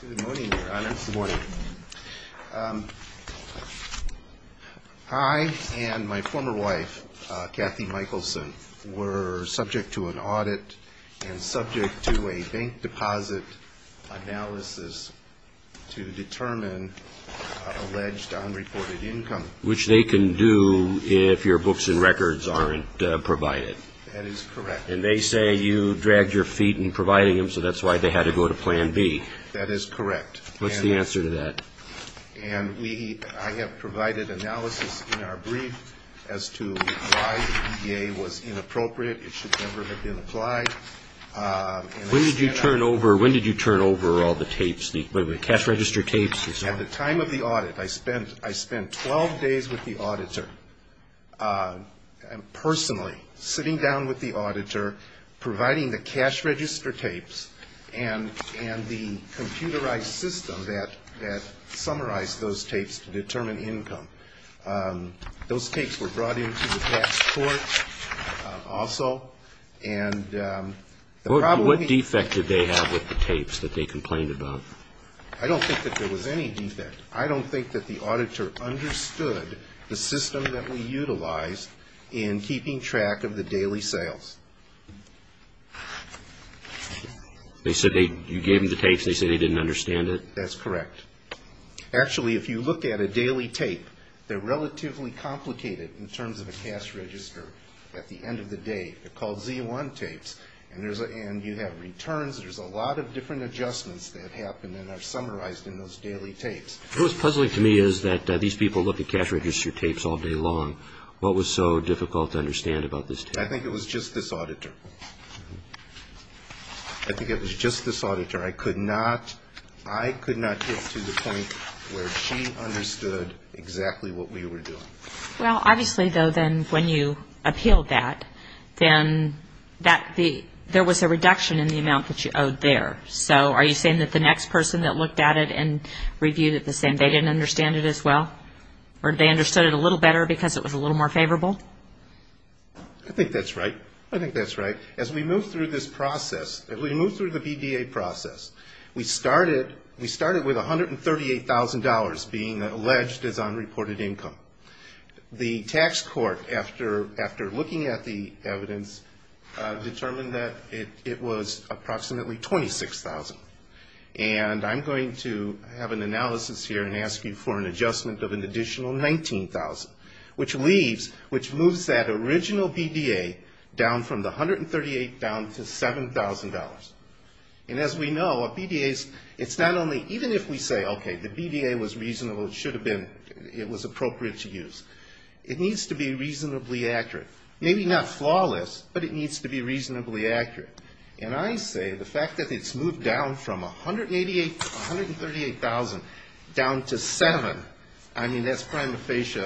Good morning, Your Honor. Good morning. I and my former wife, Kathy Michelson, were subject to an audit and subject to a bank deposit analysis to determine alleged unreported income. Which they can do if your books and records aren't provided. That is correct. And they say you dragged your feet in providing them, so that's why they had to go to Plan B. That is correct. What's the answer to that? And we, I have provided analysis in our brief as to why the EDA was inappropriate. It should never have been applied. When did you turn over, when did you turn over all the tapes, the cash register tapes? At the time of the audit, I spent 12 days with the auditor, personally, sitting down with the auditor, providing the cash register tapes and the computerized system that summarized those tapes to determine income. Those tapes were brought in to the tax court also. What defect did they have with the tapes that they complained about? I don't think that there was any defect. I don't think that the auditor understood the system that we utilized in keeping track of the daily sales. They said they, you gave them the tapes, they said they didn't understand it? That's correct. Actually, if you look at a daily tape, they're relatively complicated in terms of a cash register at the end of the day. They're called Z1 tapes, and you have returns, there's a lot of different adjustments that happen and are summarized in those daily tapes. What was puzzling to me is that these people looked at cash register tapes all day long. What was so difficult to understand about this tape? I think it was just this auditor. I think it was just this auditor. I could not get to the point where she understood exactly what we were doing. Well, obviously, though, then when you appealed that, then there was a reduction in the amount that you owed there. So are you saying that the next person that looked at it and reviewed it the same, they didn't understand it as well? Or they understood it a little better because it was a little more favorable? I think that's right. I think that's right. As we move through this process, as we move through the BDA process, we started with $138,000 being alleged as unreported income. The tax court, after looking at the evidence, determined that it was approximately $26,000. And I'm going to have an analysis here and ask you for an adjustment of an additional $19,000, which leaves, which moves that original BDA down from the $138,000 down to $7,000. And as we know, a BDA is, it's not only, even if we say, okay, the BDA was reasonable, it should have been, it was appropriate to use, it needs to be reasonably accurate. Maybe not flawless, but it needs to be reasonably accurate. And I say the fact that it's moved down from $138,000 down to $7,000, I mean, that's prima facie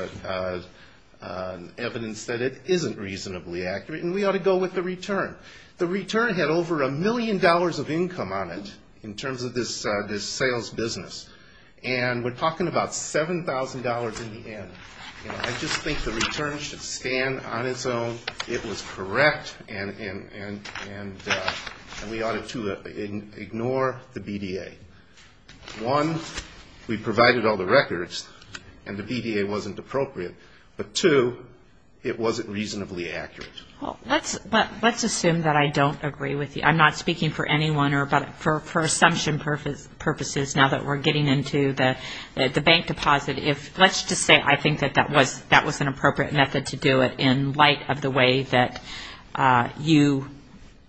evidence that it isn't reasonably accurate. And we ought to go with the return. The return had over a million dollars of income on it in terms of this sales business. And we're talking about $7,000 in the end. I just think the return should stand on its own. It was correct, and we ought to ignore the BDA. One, we provided all the records, and the BDA wasn't appropriate. But two, it wasn't reasonably accurate. Well, let's assume that I don't agree with you. I'm not speaking for anyone or for assumption purposes now that we're getting into the bank deposit. Let's just say I think that that was an appropriate method to do it in light of the way that you,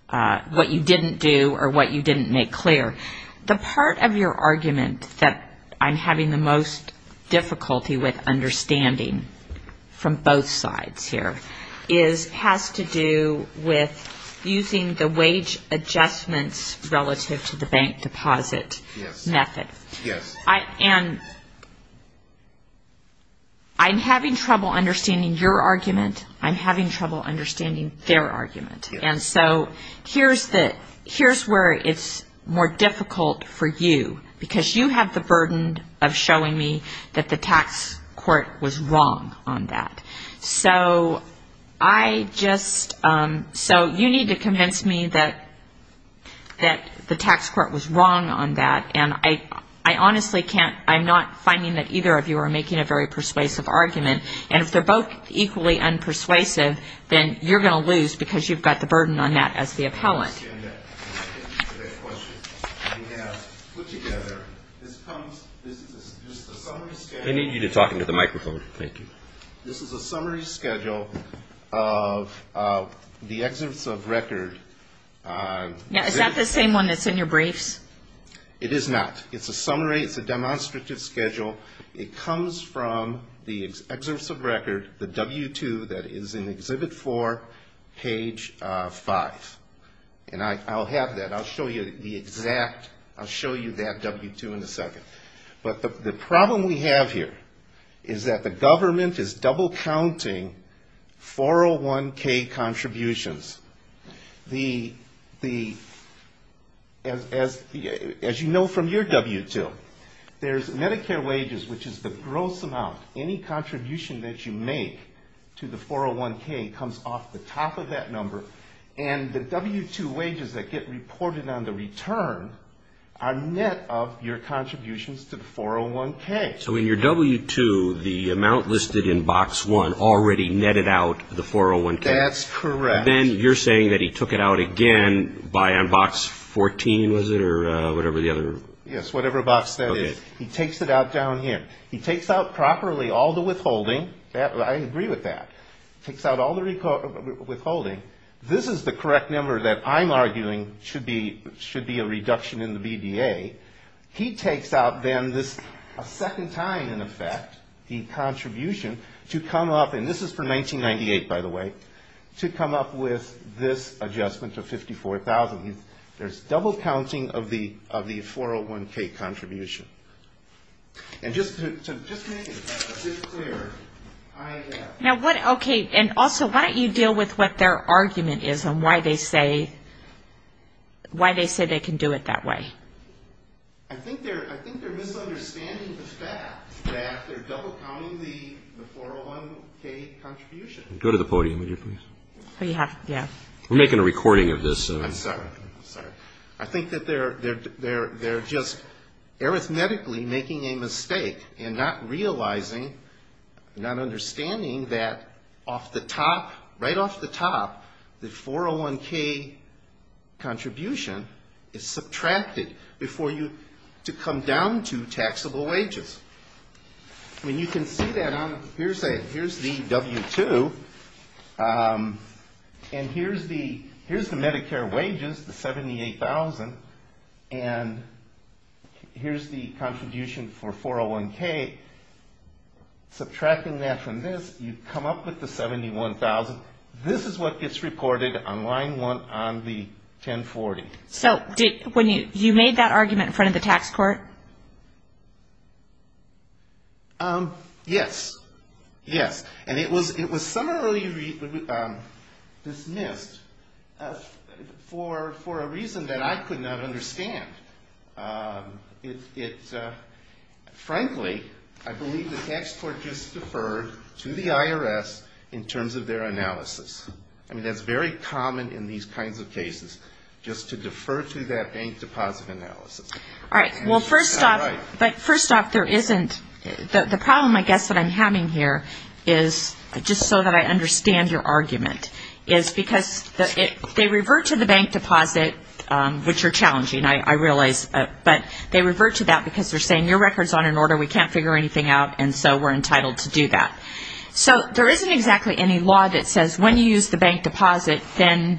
what you didn't do or what you didn't make clear. The part of your argument that I'm having the most difficulty with understanding from both sides here is, has to do with using the wage adjustments relative to the bank deposit method. And I'm having trouble understanding your argument. I'm having trouble understanding their argument. And so here's where it's more difficult for you because you have the burden of showing me that the tax court was wrong on that. So I just, so you need to convince me that the tax court was wrong on that. And I honestly can't, I'm not finding that either of you are making a very persuasive argument. And if they're both equally unpersuasive, then you're going to lose because you've got the burden on that as the appellant. I understand that. And I thank you for that question. We have put together, this comes, this is just a summary schedule. I need you to talk into the microphone. Thank you. This is a summary schedule of the excerpts of record. Is that the same one that's in your briefs? It is not. It's a summary. It's a demonstrative schedule. It comes from the excerpts of record, the W-2 that is in Exhibit 4, page 5. And I'll have that. I'll show you the exact, I'll show you that W-2 in a second. But the problem we have here is that the government is double counting 401K contributions. As you know from your W-2, there's Medicare wages, which is the gross amount. Any contribution that you make to the 401K comes off the top of that number. And the W-2 wages that get reported on the return are net of your contributions to the 401K. So in your W-2, the amount listed in Box 1 already netted out the 401K. That's correct. And then you're saying that he took it out again by on Box 14, was it, or whatever the other? Yes, whatever Box that is. Okay. He takes it out down here. He takes out properly all the withholding. I agree with that. Takes out all the withholding. This is the correct number that I'm arguing should be a reduction in the BDA. He takes out then this second time, in effect, the contribution to come up, and this is for 1998, by the way, to come up with this adjustment of $54,000. There's double counting of the 401K contribution. And just to make it clear, I have. Okay, and also, why don't you deal with what their argument is on why they say they can do it that way? I think they're misunderstanding the fact that they're double counting the 401K contribution. Go to the podium, would you please? We're making a recording of this. I'm sorry. I'm sorry. I think that they're just arithmetically making a mistake in not realizing, not understanding that off the top, right off the top, the 401K contribution is subtracted to come down to taxable wages. I mean, you can see that on. Here's the W-2, and here's the Medicare wages, the $78,000, and here's the contribution for 401K. Subtracting that from this, you come up with the $71,000. This is what gets recorded on line one on the 1040. So you made that argument in front of the tax court? Yes. Yes. And it was summarily dismissed for a reason that I could not understand. Frankly, I believe the tax court just deferred to the IRS in terms of their analysis. I mean, that's very common in these kinds of cases, just to defer to that bank deposit analysis. All right. Well, first off, there isn't. The problem, I guess, that I'm having here is, just so that I understand your argument, is because they revert to the bank deposit, which are challenging, I realize, but they revert to that because they're saying, your record's on an order, we can't figure anything out, and so we're entitled to do that. So there isn't exactly any law that says when you use the bank deposit, then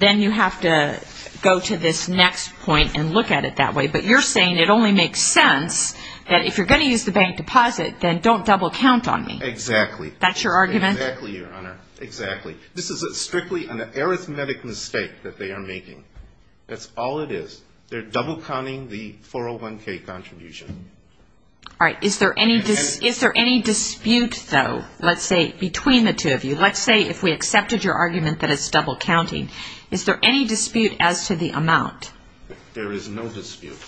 you have to go to this next point and look at it that way. But you're saying it only makes sense that if you're going to use the bank deposit, then don't double-count on me. Exactly. That's your argument? Exactly, Your Honor. Exactly. This is strictly an arithmetic mistake that they are making. That's all it is. They're double-counting the 401K contribution. All right. Is there any dispute, though, let's say, between the two of you? Let's say if we accepted your argument that it's double-counting. Is there any dispute as to the amount? There is no dispute.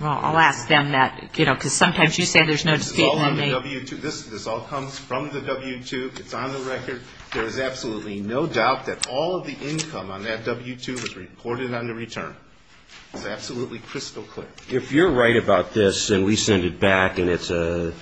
Well, I'll ask them that because sometimes you say there's no dispute. This all comes from the W-2. It's on the record. There is absolutely no doubt that all of the income on that W-2 was reported on the return. It's absolutely crystal clear. If you're right about this and we send it back and it's a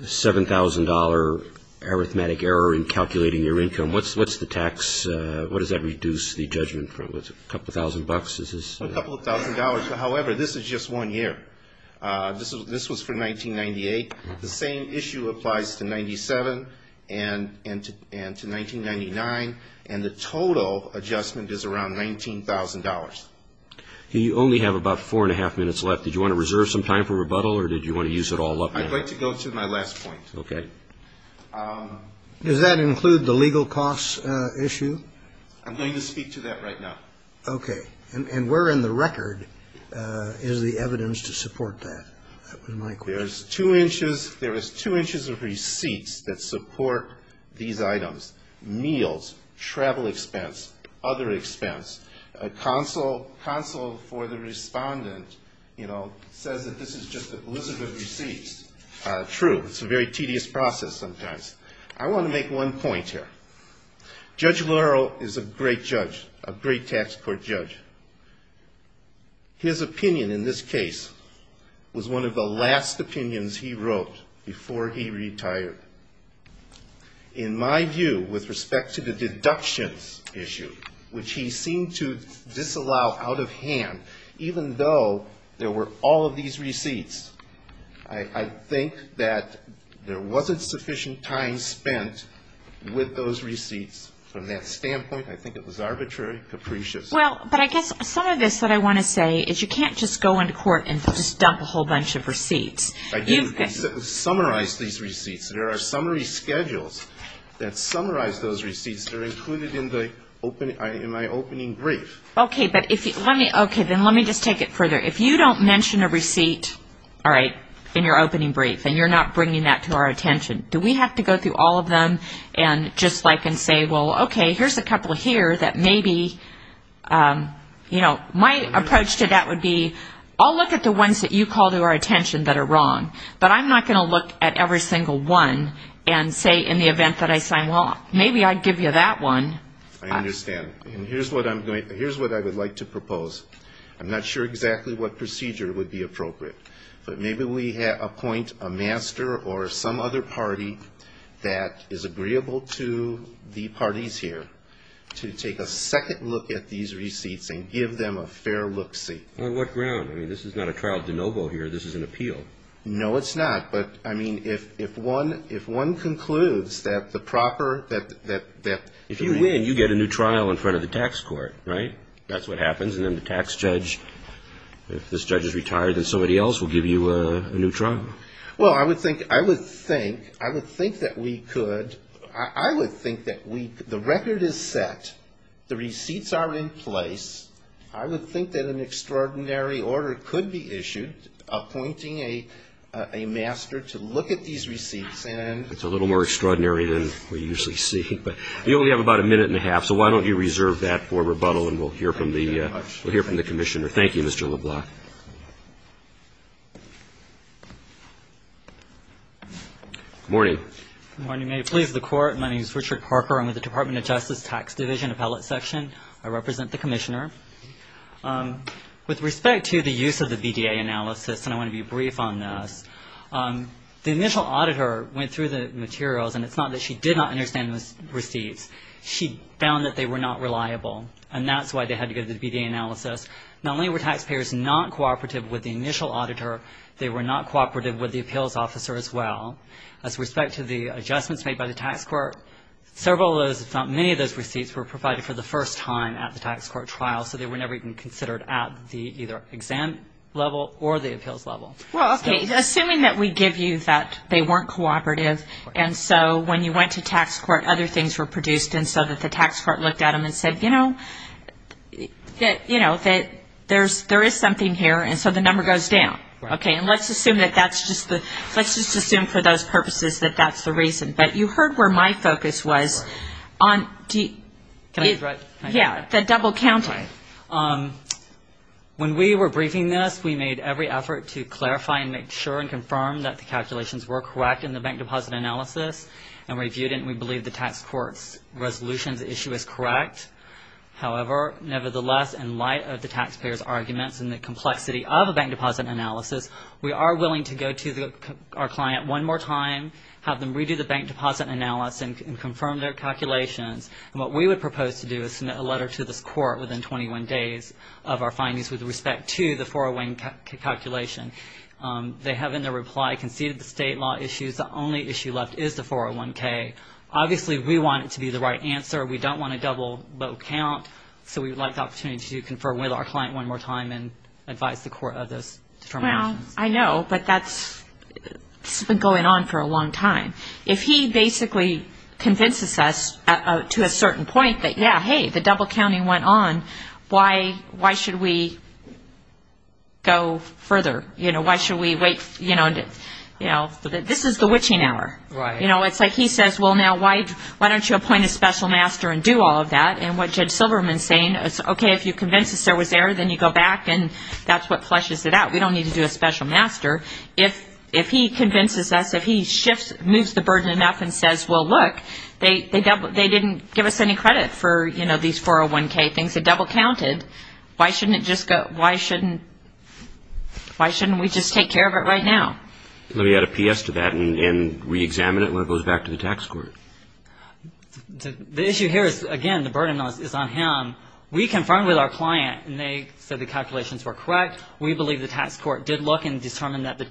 $7,000 arithmetic error in calculating your income, what does that reduce the judgment from? A couple of thousand bucks. A couple of thousand dollars. However, this is just one year. This was from 1998. The same issue applies to 1997 and to 1999, and the total adjustment is around $19,000. You only have about four and a half minutes left. Did you want to reserve some time for rebuttal or did you want to use it all up now? I'd like to go to my last point. Okay. Does that include the legal costs issue? I'm going to speak to that right now. Okay. And where in the record is the evidence to support that? That was my question. There is two inches of receipts that support these items. Meals, travel expense, other expense. Counsel for the respondent, you know, says that this is just an illicit receipt. True. It's a very tedious process sometimes. I want to make one point here. Judge Laurel is a great judge, a great tax court judge. His opinion in this case was one of the last opinions he wrote before he retired. In my view, with respect to the deductions issue, which he seemed to disallow out of hand, even though there were all of these receipts, I think that there wasn't sufficient time spent with those receipts. From that standpoint, I think it was arbitrary, capricious. Well, but I guess some of this that I want to say is you can't just go into court and just dump a whole bunch of receipts. I didn't summarize these receipts. There are summary schedules that summarize those receipts that are included in my opening brief. Okay. Then let me just take it further. If you don't mention a receipt, all right, in your opening brief, and you're not bringing that to our attention, do we have to go through all of them and just like and say, well, okay, here's a couple here that maybe, you know, my approach to that would be, I'll look at the ones that you call to our attention that are wrong, but I'm not going to look at every single one and say in the event that I sign law, maybe I'd give you that one. I understand. And here's what I would like to propose. I'm not sure exactly what procedure would be appropriate, but maybe we appoint a master or some other party that is agreeable to the parties here to take a second look at these receipts and give them a fair look-see. On what ground? I mean, this is not a trial de novo here. This is an appeal. No, it's not. But, I mean, if one concludes that the proper – If you win, you get a new trial in front of the tax court, right? That's what happens. And then the tax judge, if this judge is retired, then somebody else will give you a new trial. Well, I would think that we could – I would think that we – the record is set. The receipts are in place. I would think that an extraordinary order could be issued appointing a master to look at these receipts. It's a little more extraordinary than we usually see. But we only have about a minute and a half, so why don't you reserve that for rebuttal and we'll hear from the commissioner. Thank you, Mr. LeBlanc. Good morning. Good morning. May it please the Court, my name is Richard Parker. I'm with the Department of Justice Tax Division Appellate Section. I represent the commissioner. With respect to the use of the BDA analysis, and I want to be brief on this, the initial auditor went through the materials, and it's not that she did not understand the receipts. She found that they were not reliable, and that's why they had to go to the BDA analysis. Not only were taxpayers not cooperative with the initial auditor, they were not cooperative with the appeals officer as well. As respect to the adjustments made by the tax court, several of those, if not many of those receipts were provided for the first time at the tax court trial, so they were never even considered at the either exam level or the appeals level. Well, okay, assuming that we give you that they weren't cooperative, and so when you went to tax court, other things were produced, and so that the tax court looked at them and said, you know, that there is something here, and so the number goes down. Okay, and let's just assume for those purposes that that's the reason. But you heard where my focus was on the double counting. When we were briefing this, we made every effort to clarify and make sure and confirm that the calculations were correct in the bank deposit analysis and reviewed it, and we believe the tax court's resolutions issue is correct. However, nevertheless, in light of the taxpayers' arguments and the complexity of a bank deposit analysis, we are willing to go to our client one more time, have them redo the bank deposit analysis and confirm their calculations, and what we would propose to do is submit a letter to this court within 21 days of our findings with respect to the 401 calculation. They have in their reply conceded the state law issues. The only issue left is the 401K. Obviously, we want it to be the right answer. We don't want a double vote count, so we would like the opportunity to confer with our client one more time and advise the court of those determinations. Well, I know, but that's been going on for a long time. If he basically convinces us to a certain point that, yeah, hey, the double counting went on, why should we go further? Why should we wait? This is the witching hour. It's like he says, well, now, why don't you appoint a special master and do all of that? And what Judge Silverman is saying is, okay, if you convince us there was error, then you go back and that's what flushes it out. We don't need to do a special master. If he convinces us, if he shifts, moves the burden enough and says, well, look, they didn't give us any credit for these 401K things that double counted, why shouldn't we just take care of it right now? Let me add a PS to that and reexamine it when it goes back to the tax court. The issue here is, again, the burden is on him. We confirmed with our client and they said the calculations were correct. We believe the tax court did look and determined that the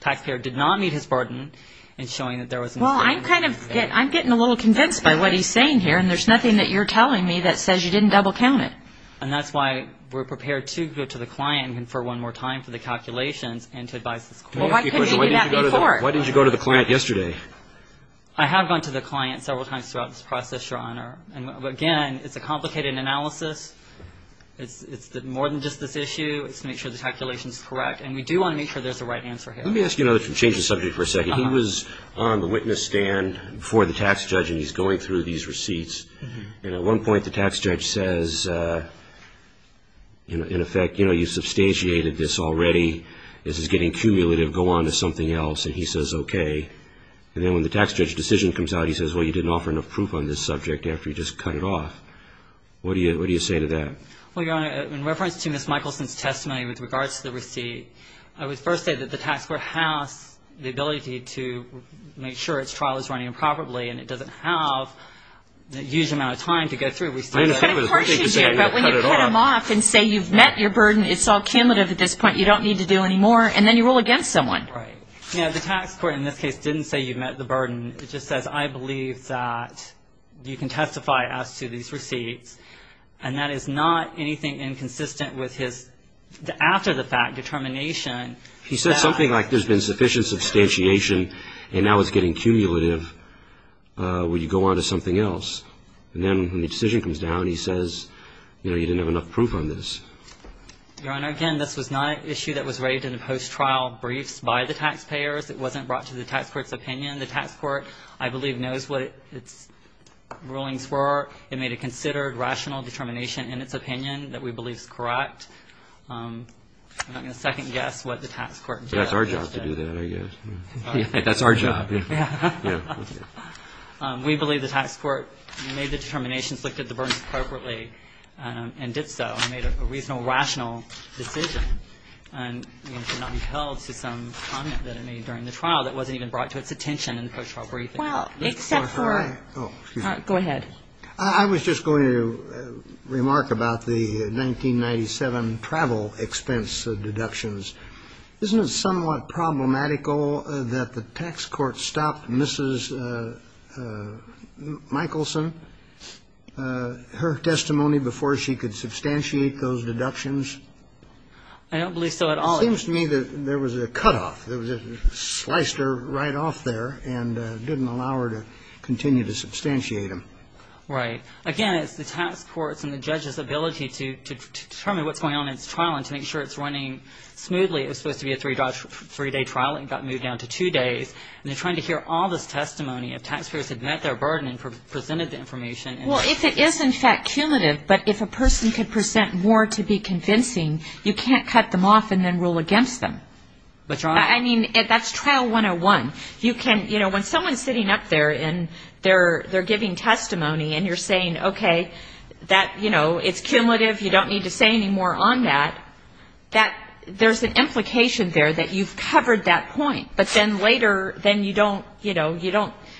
taxpayer did not meet his burden Well, I'm kind of getting a little convinced by what he's saying here, and there's nothing that you're telling me that says you didn't double count it. And that's why we're prepared to go to the client and confer one more time for the calculations and to advise the court. Why didn't you go to the client yesterday? I have gone to the client several times throughout this process, Your Honor. Again, it's a complicated analysis. It's more than just this issue. It's to make sure the calculation is correct. And we do want to make sure there's a right answer here. Let me ask you to change the subject for a second. He was on the witness stand before the tax judge and he's going through these receipts. And at one point the tax judge says, in effect, you know, you substantiated this already. This is getting cumulative. Go on to something else. And he says, okay. And then when the tax judge's decision comes out, he says, well, you didn't offer enough proof on this subject after you just cut it off. What do you say to that? I would first say that the tax court has the ability to make sure its trial is running properly and it doesn't have a huge amount of time to go through receipts. But when you cut them off and say you've met your burden, it's all cumulative at this point. You don't need to do any more. And then you rule against someone. Right. Yeah, the tax court in this case didn't say you met the burden. It just says, I believe that you can testify as to these receipts. And that is not anything inconsistent with his after-the-fact determination. He said something like there's been sufficient substantiation and now it's getting cumulative when you go on to something else. And then when the decision comes down, he says, you know, you didn't have enough proof on this. Your Honor, again, this was not an issue that was raised in the post-trial briefs by the taxpayers. It wasn't brought to the tax court's opinion. The tax court, I believe, knows what its rulings were. It made a considered rational determination in its opinion that we believe is correct. I'm not going to second-guess what the tax court did. That's our job to do that, I guess. That's our job. We believe the tax court made the determinations, looked at the burdens appropriately, and did so. It made a reasonable, rational decision. And it should not be held to some comment that it made during the trial that wasn't even brought to its attention in the post-trial briefing. Well, except for go ahead. I was just going to remark about the 1997 travel expense deductions. Isn't it somewhat problematical that the tax court stopped Mrs. Michelson, her testimony before she could substantiate those deductions? I don't believe so at all. It seems to me that there was a cutoff. It sliced her right off there and didn't allow her to continue to substantiate them. Right. Again, it's the tax court's and the judge's ability to determine what's going on in its trial and to make sure it's running smoothly. It was supposed to be a three-day trial. It got moved down to two days. And they're trying to hear all this testimony of taxpayers who had met their burden and presented the information. Well, if it is, in fact, cumulative, but if a person could present more to be convincing, you can't cut them off and then rule against them. I mean, that's trial 101. When someone's sitting up there and they're giving testimony and you're saying, okay, it's cumulative, you don't need to say any more on that, there's an implication there that you've covered that point. But then later, then you don't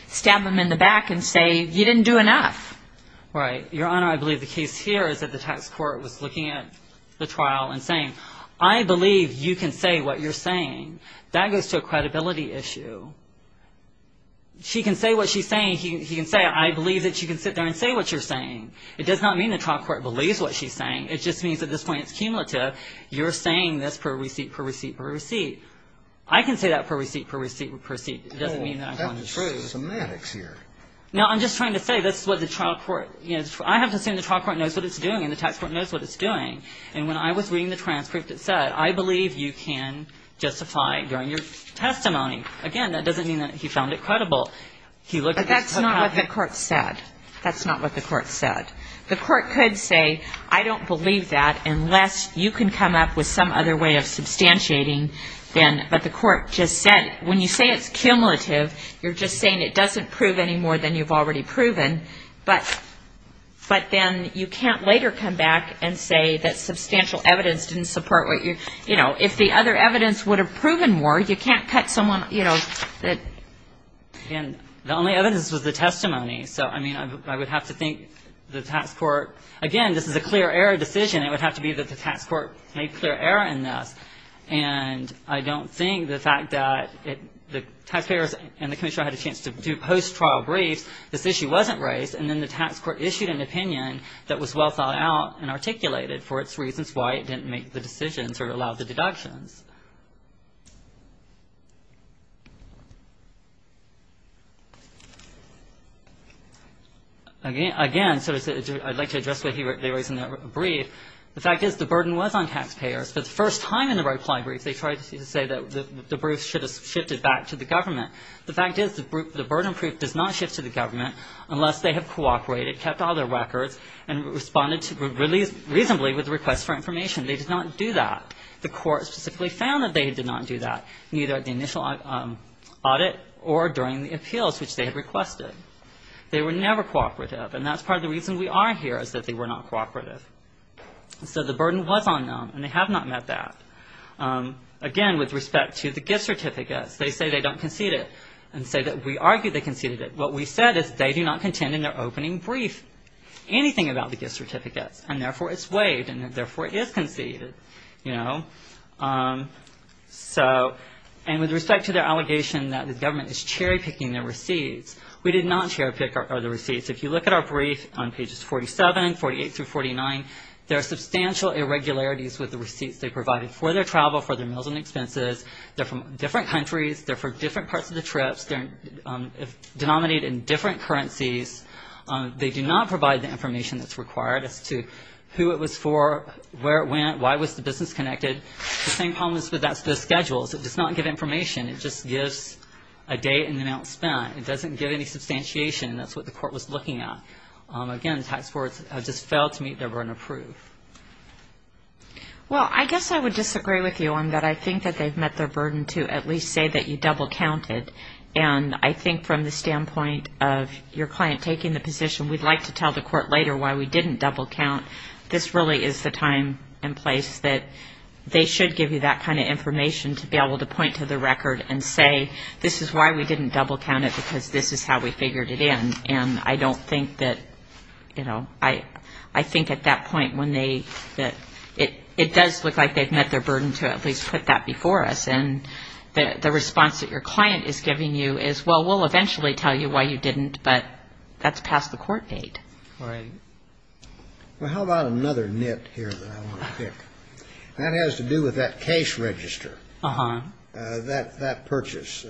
stab them in the back and say, you didn't do enough. Right. Your Honor, I believe the case here is that the tax court was looking at the trial and saying, I believe you can say what you're saying. That goes to a credibility issue. She can say what she's saying. He can say, I believe that you can sit there and say what you're saying. It does not mean the trial court believes what she's saying. It just means at this point it's cumulative. You're saying this per receipt, per receipt, per receipt. I can say that per receipt, per receipt, per receipt. It doesn't mean that I'm going to say it. That's semantics here. No, I'm just trying to say this is what the trial court, you know, I have to assume the trial court knows what it's doing and the tax court knows what it's doing. And when I was reading the transcript, it said, I believe you can justify during your testimony. Again, that doesn't mean that he found it credible. But that's not what the court said. That's not what the court said. The court could say, I don't believe that unless you can come up with some other way of substantiating. But the court just said, when you say it's cumulative, you're just saying it doesn't prove any more than you've already proven. But then you can't later come back and say that substantial evidence didn't support what you, you know, if the other evidence would have proven more, you can't cut someone, you know, that. And the only evidence was the testimony. So, I mean, I would have to think the tax court. Again, this is a clear error decision. It would have to be that the tax court made clear error in this. And I don't think the fact that the taxpayers and the commissioner had a chance to do post-trial briefs, this issue wasn't raised, and then the tax court issued an opinion that was well thought out and articulated for its reasons why it didn't make the decisions or allow the deductions. Again, I'd like to address what they raised in that brief. The fact is the burden was on taxpayers. For the first time in the reply brief, they tried to say that the brief should have shifted back to the government. The fact is the burden proof does not shift to the government unless they have cooperated, kept all their records, and responded reasonably with requests for information. They did not do that. The court specifically found that they did not do that, neither at the initial audit or during the appeals, which they had requested. They were never cooperative. And that's part of the reason we are here, is that they were not cooperative. So the burden was on them, and they have not met that. Again, with respect to the gift certificates, they say they don't concede it, and say that we argue they conceded it. What we said is they do not contend in their opening brief anything about the gift certificates, and therefore it's waived, and therefore it is conceded. And with respect to their allegation that the government is cherry-picking their receipts, we did not cherry-pick the receipts. If you look at our brief on pages 47, 48, through 49, there are substantial irregularities with the receipts they provided for their travel, for their meals and expenses. They're from different countries. They're for different parts of the trips. They're denominated in different currencies. They do not provide the information that's required as to who it was for, where it went, why was the business connected. The same problem is with the schedules. It does not give information. It just gives a date and the amount spent. It doesn't give any substantiation, and that's what the court was looking at. Again, the task force has just failed to meet their burden of proof. Well, I guess I would disagree with you on that. I think that they've met their burden to at least say that you double-counted. And I think from the standpoint of your client taking the position, we'd like to tell the court later why we didn't double-count, this really is the time and place that they should give you that kind of information to be able to point to the record and say, this is why we didn't double-count it because this is how we figured it in. And I don't think that, you know, I think at that point when they, it does look like they've met their burden to at least put that before us. And the response that your client is giving you is, well, we'll eventually tell you why you didn't, but that's past the court date. Right. Well, how about another nit here that I want to pick? That has to do with that case register, that purchase.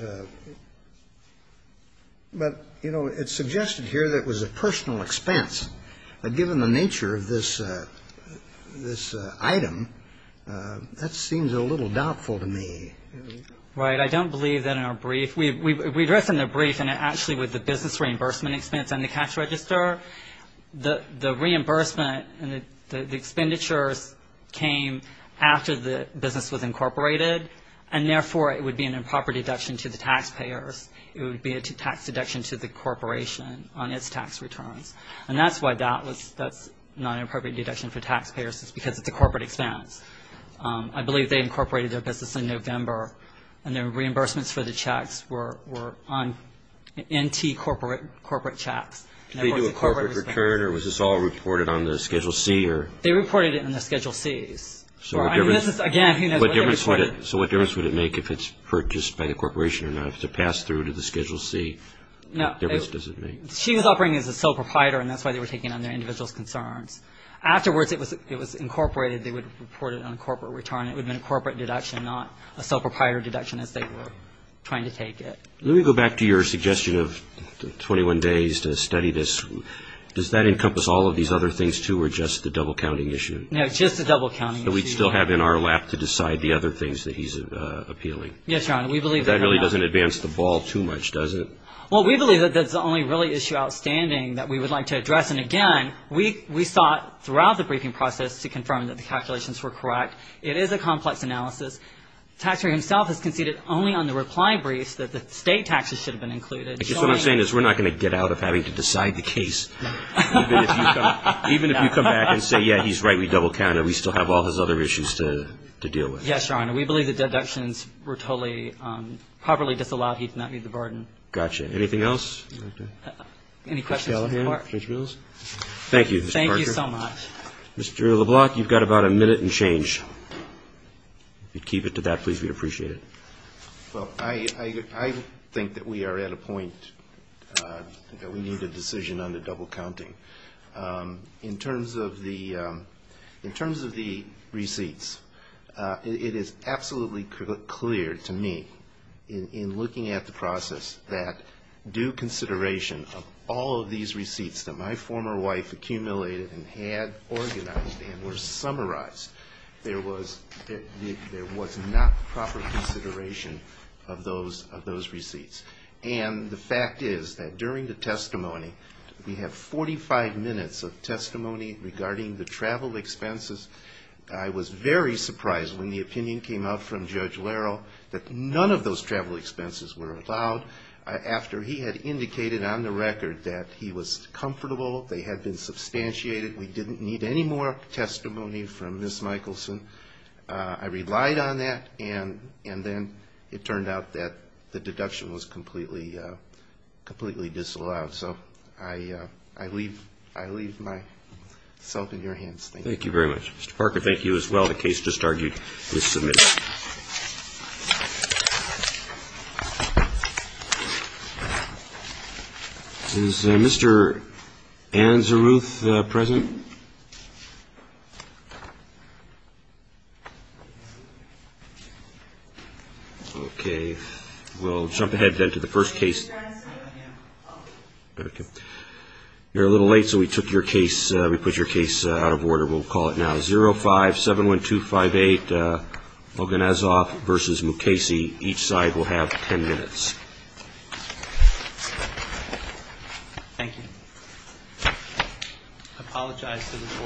But, you know, it's suggested here that it was a personal expense. Given the nature of this item, that seems a little doubtful to me. Right. I don't believe that in our brief. We address in the brief and actually with the business reimbursement expense and the cash register, the reimbursement, the expenditures came after the business was incorporated, and therefore it would be an improper deduction to the taxpayers. It would be a tax deduction to the corporation on its tax returns. And that's why that's not an appropriate deduction for taxpayers is because it's a corporate expense. I believe they incorporated their business in November and their reimbursements for the checks were on NT corporate checks. Did they do a corporate return or was this all reported on the Schedule C? They reported it in the Schedule C's. So what difference would it make if it's purchased by the corporation or not? If it's passed through to the Schedule C, what difference does it make? She was operating as a sole proprietor and that's why they were taking on their individual's concerns. Afterwards, it was incorporated. They would report it on a corporate return. It would have been a corporate deduction, not a sole proprietor deduction as they were trying to take it. Let me go back to your suggestion of 21 days to study this. Does that encompass all of these other things, too, or just the double counting issue? No, just the double counting issue. So we still have in our lap to decide the other things that he's appealing. Yes, Your Honor, we believe that. That really doesn't advance the ball too much, does it? Well, we believe that that's the only really issue outstanding that we would like to address, and again, we sought throughout the briefing process to confirm that the calculations were correct. It is a complex analysis. Taxpayer himself has conceded only on the reply briefs that the state taxes should have been included. I guess what I'm saying is we're not going to get out of having to decide the case. Even if you come back and say, yeah, he's right, we double counted, we still have all his other issues to deal with. Yes, Your Honor. We believe the deductions were totally properly disallowed. He does not need the burden. Gotcha. Anything else? Any questions? Thank you, Mr. Parker. Thank you so much. Mr. LeBlanc, you've got about a minute and change. If you'd keep it to that, please, we'd appreciate it. Well, I think that we are at a point that we need a decision on the double counting. In terms of the receipts, it is absolutely clear to me in looking at the process that due consideration of all of these receipts that my former wife accumulated and had organized and were summarized, there was not proper consideration of those receipts. And the fact is that during the testimony, we have 45 minutes of testimony regarding the travel expenses. I was very surprised when the opinion came out from Judge Lerle that none of those travel expenses were allowed after he had indicated on the record that he was comfortable, they had been substantiated, we didn't need any more testimony from Ms. Michelson. I relied on that, and then it turned out that the deduction was completely disallowed. So I leave myself in your hands. Thank you. Thank you very much. Mr. Parker, thank you as well. The case just argued is submitted. Thank you. Is Mr. Ann Zaruth present? Okay. We'll jump ahead then to the first case. You're a little late, so we took your case, we put your case out of order. We'll call it now. 05-71258, Loganazoff v. Mukasey. Each side will have 10 minutes. Thank you. I apologize for the voice being late.